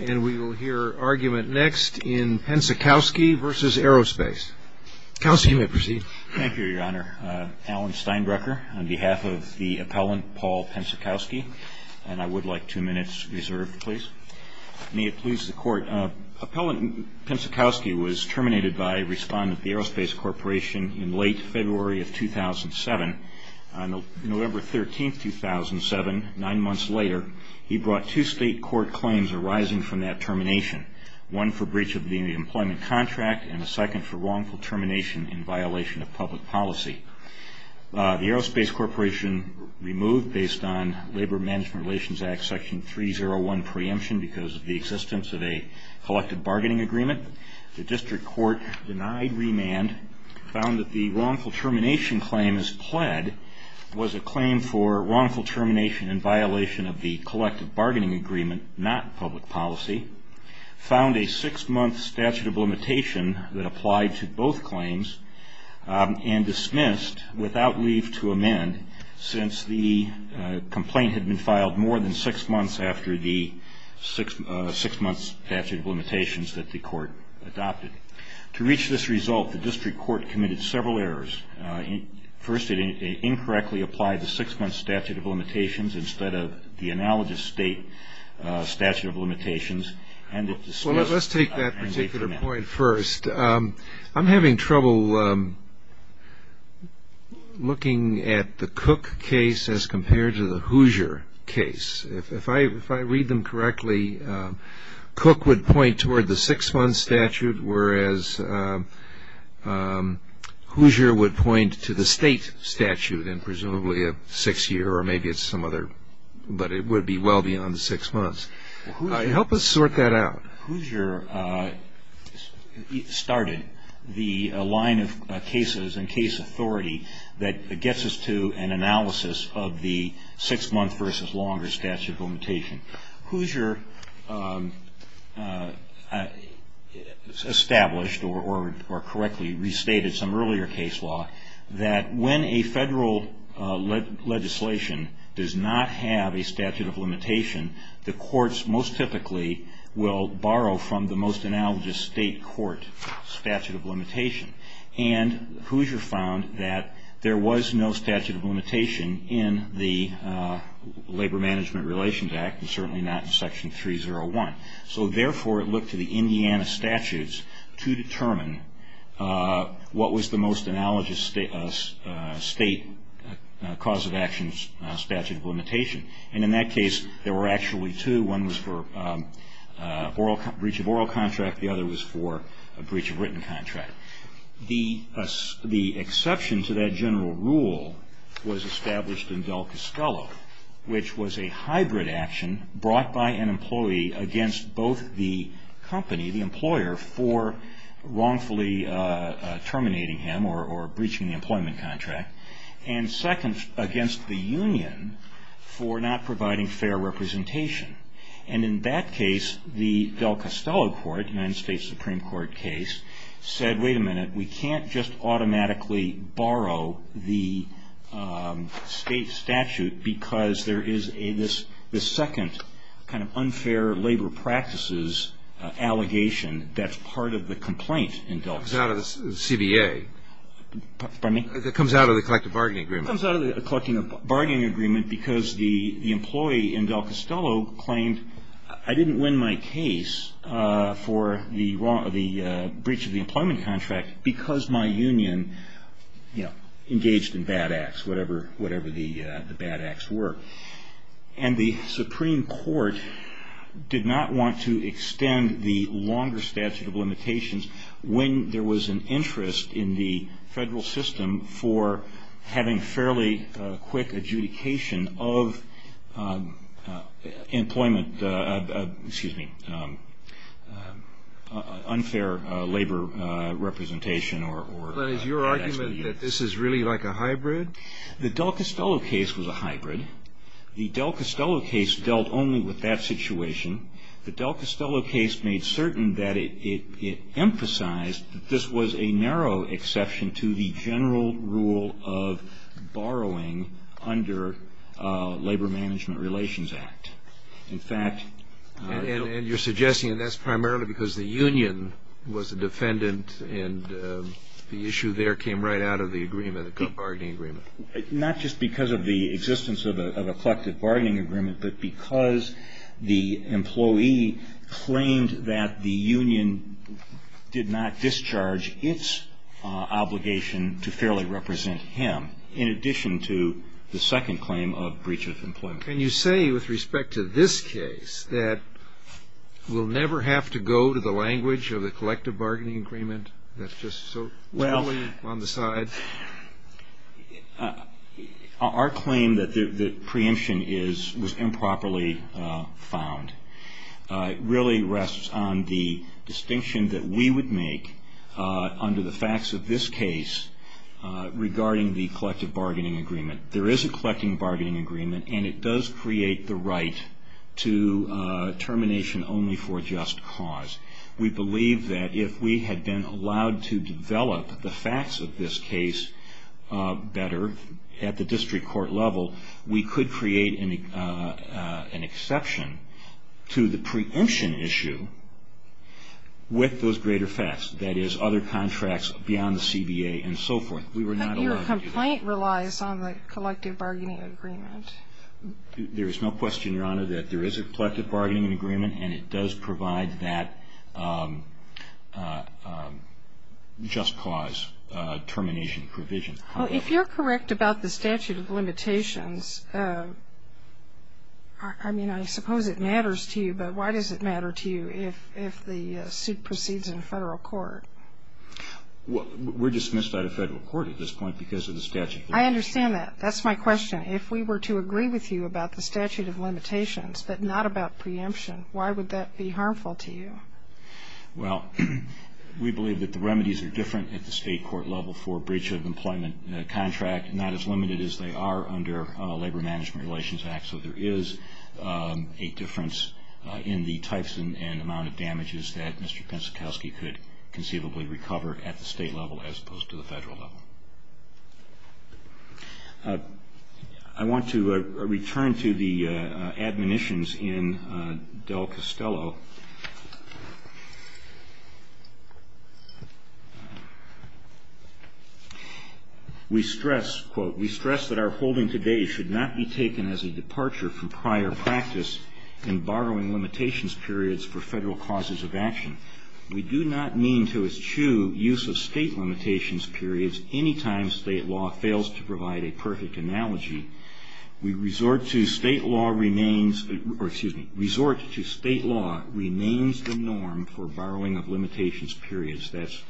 And we will hear argument next in Pencikowski v. Aerospace. Counsel, you may proceed. Thank you, Your Honor. Alan Steinbrecher on behalf of the appellant, Paul Pencikowski. And I would like two minutes reserved, please. May it please the Court. Appellant Pencikowski was terminated by a respondent at the Aerospace Corporation in late February of 2007. On November 13, 2007, nine months later, he brought two state court claims arising from that termination. One for breach of the employment contract, and a second for wrongful termination in violation of public policy. The Aerospace Corporation removed, based on Labor Management Relations Act Section 301 preemption because of the existence of a collective bargaining agreement. The district court denied remand, found that the wrongful termination claim as pled was a claim for wrongful termination in violation of the collective bargaining agreement, not public policy, found a six-month statute of limitation that applied to both claims, and dismissed without leave to amend since the complaint had been filed more than six months after the six-month statute of limitations that the court adopted. To reach this result, the district court committed several errors. First, it incorrectly applied the six-month statute of limitations instead of the analogous state statute of limitations, and it dismissed without leave to amend. Well, let's take that particular point first. I'm having trouble looking at the Cook case as compared to the Hoosier case. If I read them correctly, Cook would point toward the six-month statute, whereas Hoosier would point to the state statute in presumably a six-year or maybe it's some other, but it would be well beyond the six months. Help us sort that out. Hoosier started the line of cases and case authority that gets us to an analysis of the six-month versus longer statute of limitation. Hoosier established or correctly restated some earlier case law that when a federal legislation does not have a statute of limitation, the courts most typically will borrow from the most analogous state court statute of limitation. Hoosier found that there was no statute of limitation in the Labor Management Relations Act and certainly not in Section 301. Therefore, it looked to the Indiana statutes to determine what was the most analogous state cause of action statute of limitation. In that case, there were actually two. One was for breach of oral contract. The other was for a breach of written contract. The exception to that general rule was established in Del Casquelo, which was a hybrid action brought by an employee against both the company, the employer, for wrongfully terminating him or breaching the employment contract, and second, against the union for not providing fair representation. In that case, the Del Casquelo court, United States Supreme Court case, said, wait a minute, we can't just automatically borrow the state statute because there is this second kind of unfair labor practices allegation that's part of the complaint in Del Casquelo. It comes out of the CBA. Pardon me? It comes out of the collective bargaining agreement. It comes out of the collective bargaining agreement because the employee in Del Casquelo claimed, I didn't win my case for the breach of the employment contract because my union engaged in bad acts, whatever the bad acts were. And the Supreme Court did not want to extend the longer statute of limitations when there was an interest in the federal system for having fairly quick adjudication of employment, excuse me, unfair labor representation. But is your argument that this is really like a hybrid? The Del Casquelo case was a hybrid. The Del Casquelo case dealt only with that situation. The Del Casquelo case made certain that it emphasized that this was a narrow exception to the general rule of borrowing under Labor Management Relations Act. In fact, And you're suggesting that's primarily because the union was a defendant and the issue there came right out of the agreement, the collective bargaining agreement? Not just because of the existence of a collective bargaining agreement, but because the employee claimed that the union did not discharge its obligation to fairly represent him, in addition to the second claim of breach of employment. Can you say with respect to this case that we'll never have to go to the language of the collective bargaining agreement that's just so poorly on the side? Our claim that the preemption was improperly found really rests on the distinction that we would make under the facts of this case regarding the collective bargaining agreement. There is a collective bargaining agreement, and it does create the right to termination only for just cause. We believe that if we had been allowed to develop the facts of this case better at the district court level, we could create an exception to the preemption issue with those greater facts, that is, other contracts beyond the CBA and so forth. But your complaint relies on the collective bargaining agreement. There is no question, Your Honor, that there is a collective bargaining agreement, and it does provide that just cause termination provision. If you're correct about the statute of limitations, I mean, I suppose it matters to you, but why does it matter to you if the suit proceeds in federal court? We're dismissed out of federal court at this point because of the statute of limitations. I understand that. That's my question. If we were to agree with you about the statute of limitations but not about preemption, why would that be harmful to you? Well, we believe that the remedies are different at the state court level for breach of employment contract, not as limited as they are under Labor Management Relations Act. So there is a difference in the types and amount of damages that Mr. Pensakowski could conceivably recover at the state level as opposed to the federal level. I want to return to the admonitions in Del Costello. We stress, quote, we stress that our holding today should not be taken as a departure from prior practice in borrowing limitations periods for federal causes of action. We do not mean to eschew use of state limitations periods any time state law fails to provide a perfect analogy. We resort to state law remains the norm for borrowing of limitations periods. That's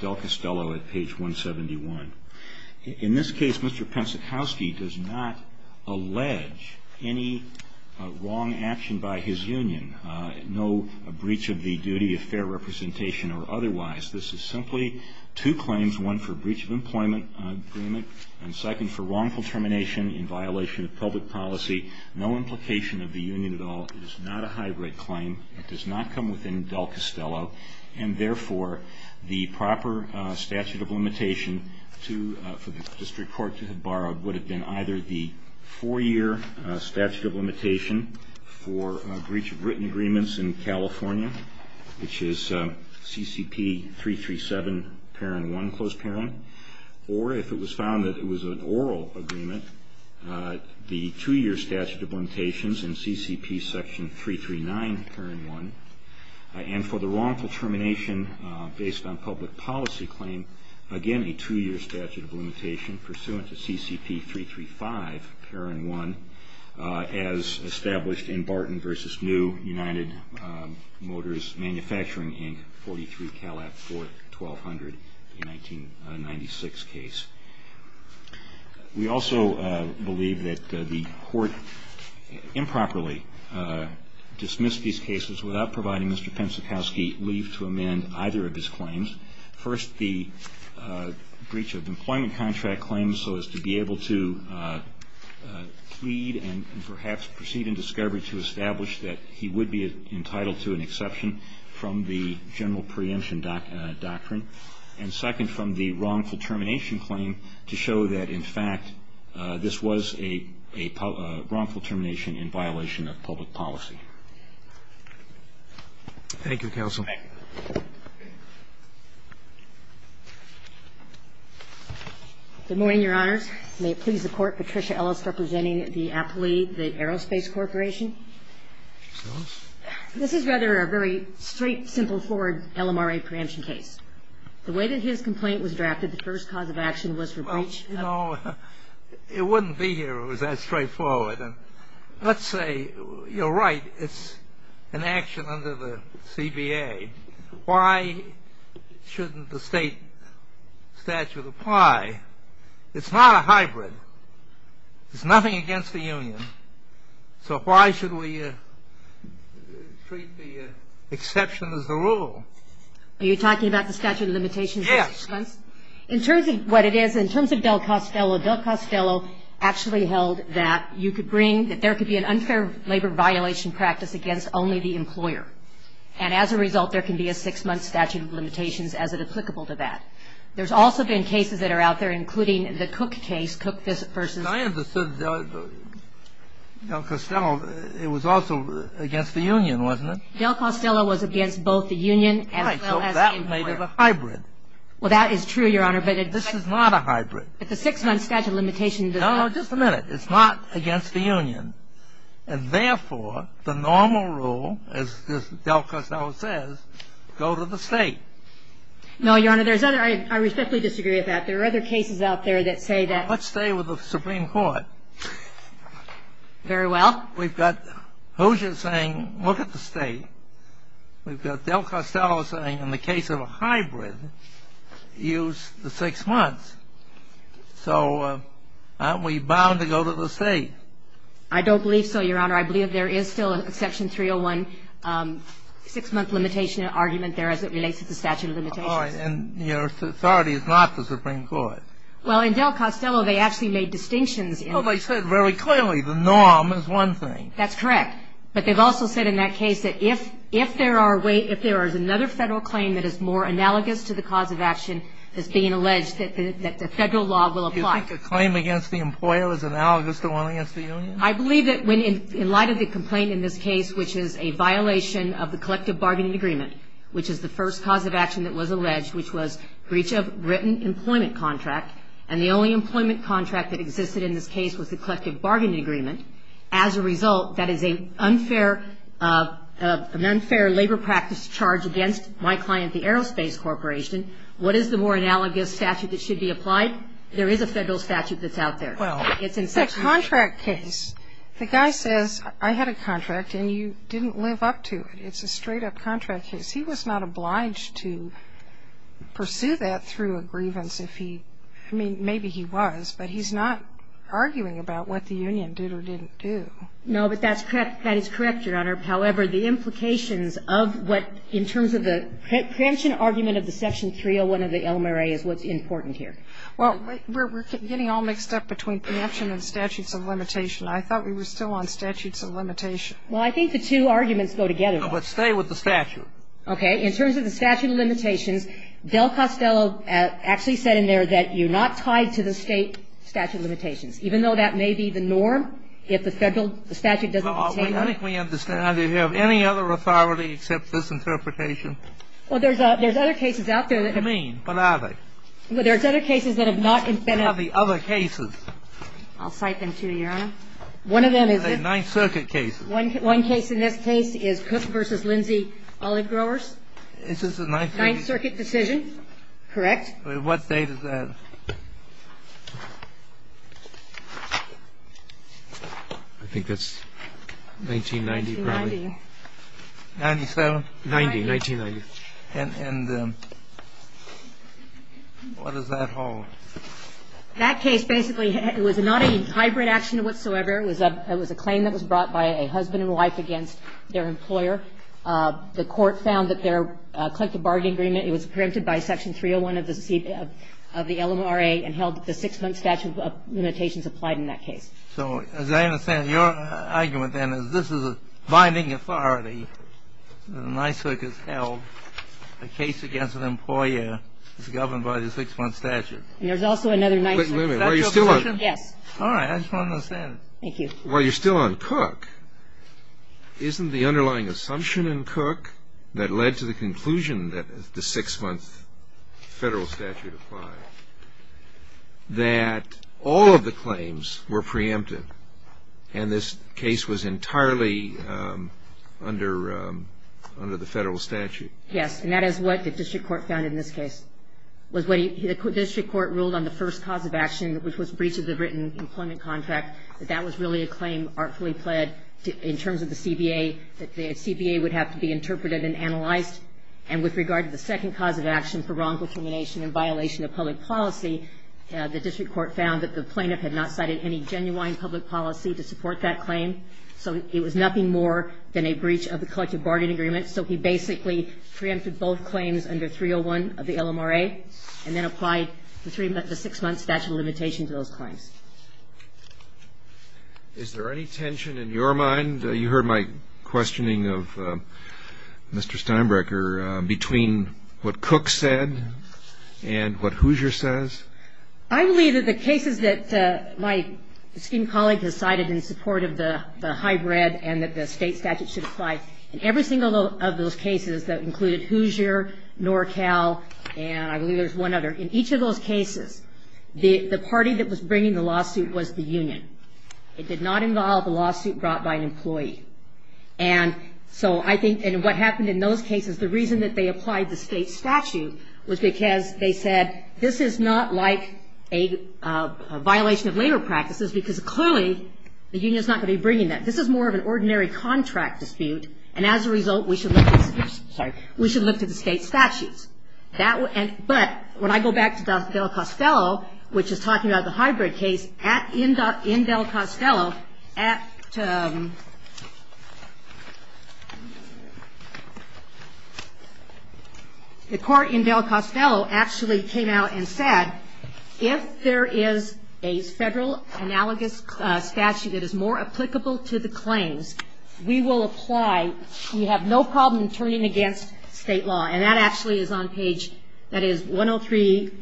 Del Costello at page 171. In this case, Mr. Pensakowski does not allege any wrong action by his union, no breach of the duty of fair representation or otherwise. This is simply two claims, one for breach of employment agreement and second for wrongful termination in violation of public policy. No implication of the union at all. It is not a high-rate claim. It does not come within Del Costello, and therefore the proper statute of limitation for the district court to have borrowed would have been either the four-year statute of limitation for breach of written agreements in California, which is CCP 337, parent one, close parent, or if it was found that it was an oral agreement, the two-year statute of limitations in CCP section 339, parent one, and for the wrongful termination based on public policy claim, again a two-year statute of limitation pursuant to CCP 335, parent one, as established in Barton v. New, United Motors Manufacturing, Inc., 43 Calab 4, 1200, 1996 case. We also believe that the court improperly dismissed these cases without providing Mr. Pensakowski leave to amend either of his claims. First, the breach of employment contract claim so as to be able to plead and perhaps proceed in discovery to establish that he would be entitled to an exception from the general preemption doctrine. And second, from the wrongful termination claim to show that, in fact, this was a wrongful termination in violation of public policy. Thank you, counsel. Thank you. Good morning, Your Honors. May it please the Court, Patricia Ellis representing the appellee, the Aerospace Corporation. This is rather a very straight, simple, forward LMRA preemption case. The way that his complaint was drafted, the first cause of action was for breach. Well, you know, it wouldn't be here if it was that straightforward. And let's say you're right, it's an action under the CBA. Why shouldn't the state statute apply? It's not a hybrid. It's nothing against the union. So why should we treat the exception as the rule? Are you talking about the statute of limitations? Yes. In terms of what it is, in terms of Del Costello, Del Costello actually held that you could bring, that there could be an unfair labor violation practice against only the employer. And as a result, there can be a six-month statute of limitations as applicable to that. There's also been cases that are out there, including the Cook case, Cook v. I understand that Del Costello, it was also against the union, wasn't it? Del Costello was against both the union as well as the employer. Right. So that made it a hybrid. Well, that is true, Your Honor. This is not a hybrid. But the six-month statute of limitations does not. No, just a minute. It's not against the union. And therefore, the normal rule, as Del Costello says, go to the state. No, Your Honor. There's other. I respectfully disagree with that. There are other cases out there that say that. Let's stay with the Supreme Court. Very well. We've got Hoosier saying look at the state. We've got Del Costello saying in the case of a hybrid, use the six months. So aren't we bound to go to the state? I don't believe so, Your Honor. I believe there is still an Exception 301 six-month limitation argument there as it relates to the statute of limitations. All right. And your authority is not the Supreme Court. Well, in Del Costello, they actually made distinctions. Well, they said very clearly the norm is one thing. That's correct. But they've also said in that case that if there is another federal claim that is more analogous to the cause of action that's being alleged that the federal law will apply. Do you think a claim against the employer is analogous to one against the union? I believe that in light of the complaint in this case, which is a violation of the collective bargaining agreement, which is the first cause of action that was alleged, which was breach of written employment contract, and the only employment contract that existed in this case was the collective bargaining agreement, as a result that is an unfair labor practice charge against my client, the Aerospace Corporation, what is the more analogous statute that should be applied? There is a federal statute that's out there. Well, it's a contract case. The guy says, I had a contract, and you didn't live up to it. It's a straight-up contract case. He was not obliged to pursue that through a grievance if he – I mean, maybe he was, but he's not arguing about what the union did or didn't do. No, but that's correct. That is correct, Your Honor. However, the implications of what, in terms of the preemption argument of the Section 301 of the Elmer A is what's important here. Well, we're getting all mixed up between preemption and statutes of limitation. I thought we were still on statutes of limitation. Well, I think the two arguments go together. But stay with the statute. Okay. In terms of the statute of limitations, Del Costello actually said in there that you're not supposed to have a statute of limitations. Even though that may be the norm if the federal statute doesn't contain one. Well, I think we understand. Do you have any other authority except this interpretation? Well, there's other cases out there that have been – What do you mean? What are they? Well, there's other cases that have not been – What are the other cases? I'll cite them to you, Your Honor. One of them is a – A Ninth Circuit case. One case in this case is Cook v. Lindsay Olive Growers. Is this a Ninth Circuit – Ninth Circuit decision. Correct. What date is that? I think that's 1990, probably. 1990. 97? 90, 1990. And what does that hold? That case basically was not a hybrid action whatsoever. It was a claim that was brought by a husband and wife against their employer. The court found that their collective bargaining agreement, it was preempted by Section 301 of the LMRA and held that the six-month statute of limitations applied in that case. So as I understand it, your argument then is this is a binding authority. The Ninth Circuit has held the case against an employer is governed by the six-month statute. And there's also another Ninth – Wait a minute. Are you still on – Yes. All right. I just want to understand. Thank you. While you're still on Cook, isn't the underlying assumption in Cook that led to the conclusion that the six-month Federal statute applied, that all of the claims were preempted and this case was entirely under the Federal statute? Yes. And that is what the district court found in this case, was what the district court ruled on the first cause of action, which was breach of the written employment contract, that that was really a claim artfully pled in terms of the CBA, that the CBA would have to be interpreted and analyzed. And with regard to the second cause of action for wrongful culmination and violation of public policy, the district court found that the plaintiff had not cited any genuine public policy to support that claim. So it was nothing more than a breach of the collective bargaining agreement. So he basically preempted both claims under 301 of the LMRA and then applied the six-month statute of limitation to those claims. Is there any tension in your mind, you heard my questioning of Mr. Steinbrecher, between what Cook said and what Hoosier says? I believe that the cases that my esteemed colleague has cited in support of the hybrid and that the State statute should apply in every single of those cases that included Hoosier, NorCal, and I believe there's one other. In each of those cases, the party that was bringing the lawsuit was the union. It did not involve a lawsuit brought by an employee. And so I think what happened in those cases, the reason that they applied the State statute was because they said this is not like a violation of labor practices, because clearly the union is not going to be bringing that. This is more of an ordinary contract dispute, and as a result, we should look to the State statutes. But when I go back to Del Costello, which is talking about the hybrid case, in Del Costello, the court in Del Costello actually came out and said, if there is a Federal analogous statute that is more applicable to the claims, we will apply, we have no problem in turning against State law. And that actually is on page, that is 103,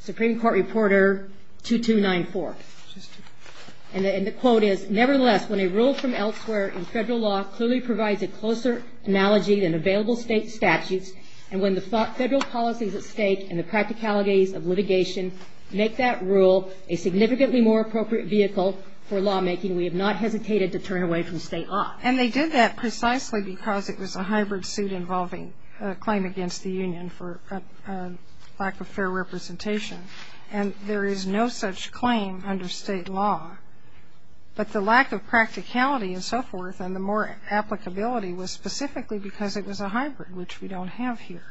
Supreme Court Reporter 2294. And the quote is, nevertheless, when a rule from elsewhere in Federal law clearly provides a closer analogy than available State statutes, and when the Federal policy is at stake and the practicalities of litigation make that rule a significantly more appropriate vehicle for lawmaking, we have not hesitated to turn away from State law. And they did that precisely because it was a hybrid suit involving a claim against the union for lack of fair representation. And there is no such claim under State law. But the lack of practicality and so forth and the more applicability was specifically because it was a hybrid, which we don't have here.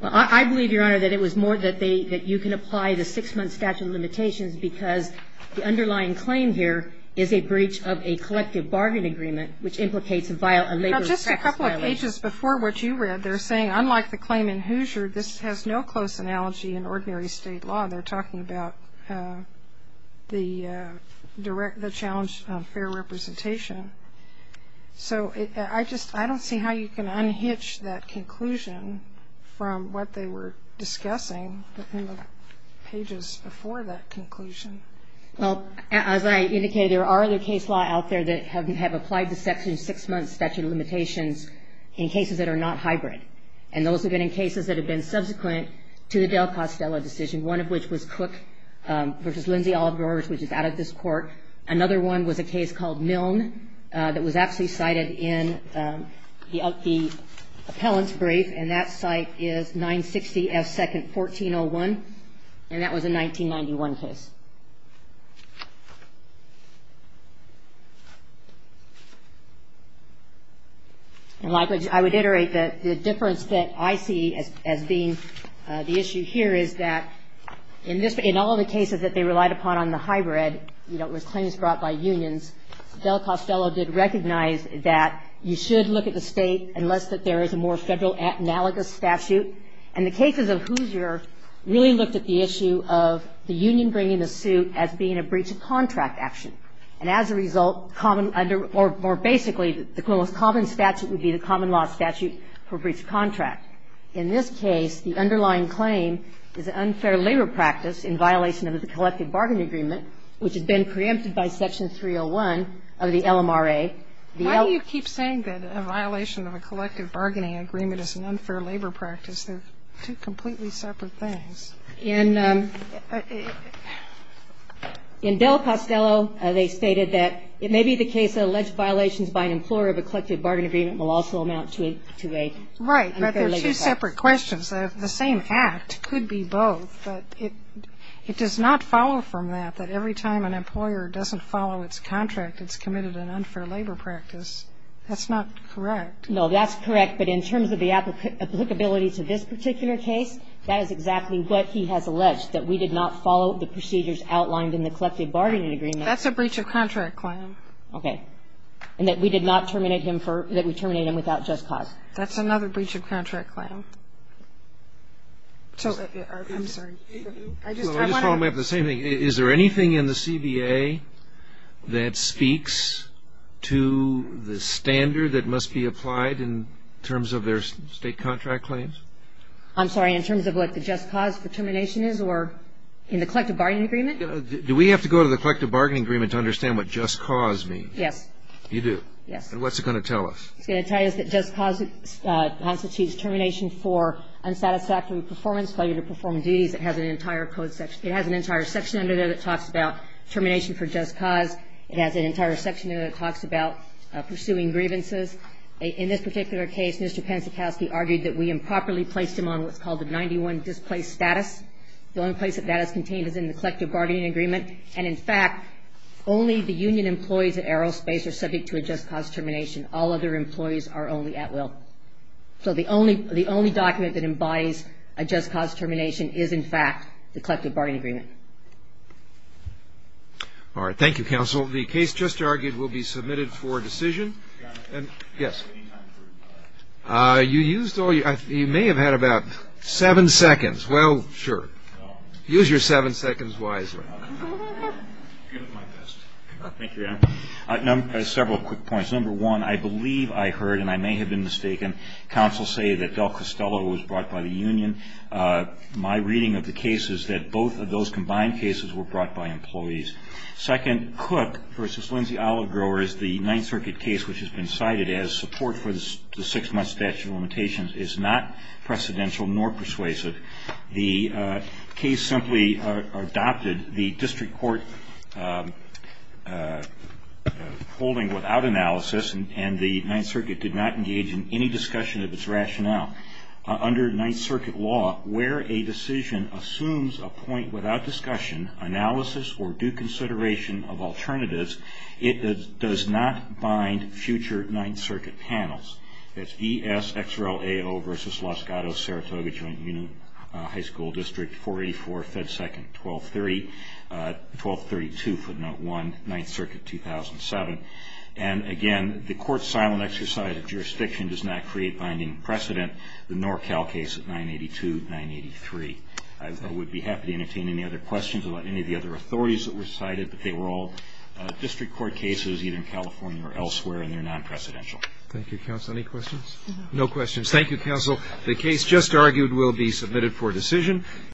Well, I believe, Your Honor, that it was more that they, that you can apply the six-month statute of limitations because the underlying claim here is a breach of a collective bargain agreement, which implicates a labor- Now, just a couple of pages before what you read, they're saying, unlike the claim in Hoosier, this has no close analogy in ordinary State law. They're talking about the direct, the challenge of fair representation. So I just, I don't see how you can unhitch that conclusion from what they were discussing in the pages before that conclusion. Well, as I indicated, there are other case law out there that have applied the section of six-month statute of limitations in cases that are not hybrid. And those have been in cases that have been subsequent to the Del Costello decision, one of which was Cook v. Lindsay Oliver, which is out of this Court. Another one was a case called Milne that was actually cited in the appellant's brief, and that site is 960 F. 2nd, 1401. And that was a 1991 case. And likewise, I would iterate that the difference that I see as being the issue here is that in this, in all the cases that they relied upon on the hybrid, you know, it was claims brought by unions, Del Costello did recognize that you should look at the federal analogous statute. And the cases of Hoosier really looked at the issue of the union bringing the suit as being a breach of contract action. And as a result, common under or basically the most common statute would be the common law statute for breach of contract. In this case, the underlying claim is an unfair labor practice in violation of the collective bargaining agreement, which has been preempted by section 301 of the LMRA. Why do you keep saying that a violation of a collective bargaining agreement is an unfair labor practice? They're two completely separate things. In Del Costello, they stated that it may be the case that alleged violations by an employer of a collective bargaining agreement will also amount to a unfair labor practice. Right. But they're two separate questions. The same act could be both. But it does not follow from that that every time an employer doesn't follow its contract, it's committed an unfair labor practice. That's not correct. No, that's correct. But in terms of the applicability to this particular case, that is exactly what he has alleged, that we did not follow the procedures outlined in the collective bargaining agreement. That's a breach of contract claim. Okay. And that we did not terminate him for or that we terminate him without just cause. That's another breach of contract claim. So I'm sorry. I just want to know. The same thing. Is there anything in the CBA that speaks to the standard that must be applied in terms of their state contract claims? I'm sorry. In terms of what the just cause for termination is or in the collective bargaining agreement? Do we have to go to the collective bargaining agreement to understand what just cause means? Yes. You do? Yes. And what's it going to tell us? It's going to tell us that just cause constitutes termination for unsatisfactory performance, failure to perform duties. It has an entire code section. It has an entire section under there that talks about termination for just cause. It has an entire section under there that talks about pursuing grievances. In this particular case, Mr. Pensakowski argued that we improperly placed him on what's called the 91 displaced status. The only place that that is contained is in the collective bargaining agreement. And, in fact, only the union employees at Aerospace are subject to a just cause termination. All other employees are only at will. So the only document that embodies a just cause termination is, in fact, the collective bargaining agreement. All right. Thank you, counsel. The case just argued will be submitted for decision. Yes. You used all your you may have had about seven seconds. Well, sure. Use your seven seconds wisely. Thank you, Your Honor. I have several quick points. Number one, I believe I heard, and I may have been mistaken, counsel say that Del Costello was brought by the union. My reading of the case is that both of those combined cases were brought by employees. Second, Cook v. Lindsay Olivegrowers, the Ninth Circuit case, which has been cited as support for the six-month statute of limitations, is not precedential nor persuasive. The case simply adopted the district court holding without analysis, and the Ninth Circuit did not engage in any discussion of its rationale. Under Ninth Circuit law, where a decision assumes a point without discussion, analysis, or due consideration of alternatives, it does not bind future Ninth Circuit panels. That's ESXRAO v. Los Gatos-Saratoga Joint Union High School District, 484 Fed 2nd, 1232, footnote 1, Ninth Circuit, 2007. And, again, the court's silent exercise of jurisdiction does not create binding precedent, the NorCal case of 982-983. I would be happy to entertain any other questions about any of the other authorities that were cited, but they were all district court cases, either in California or elsewhere, and they're non-precedential. Thank you, counsel. Any questions? No questions. Thank you, counsel. The case just argued will be submitted for decision.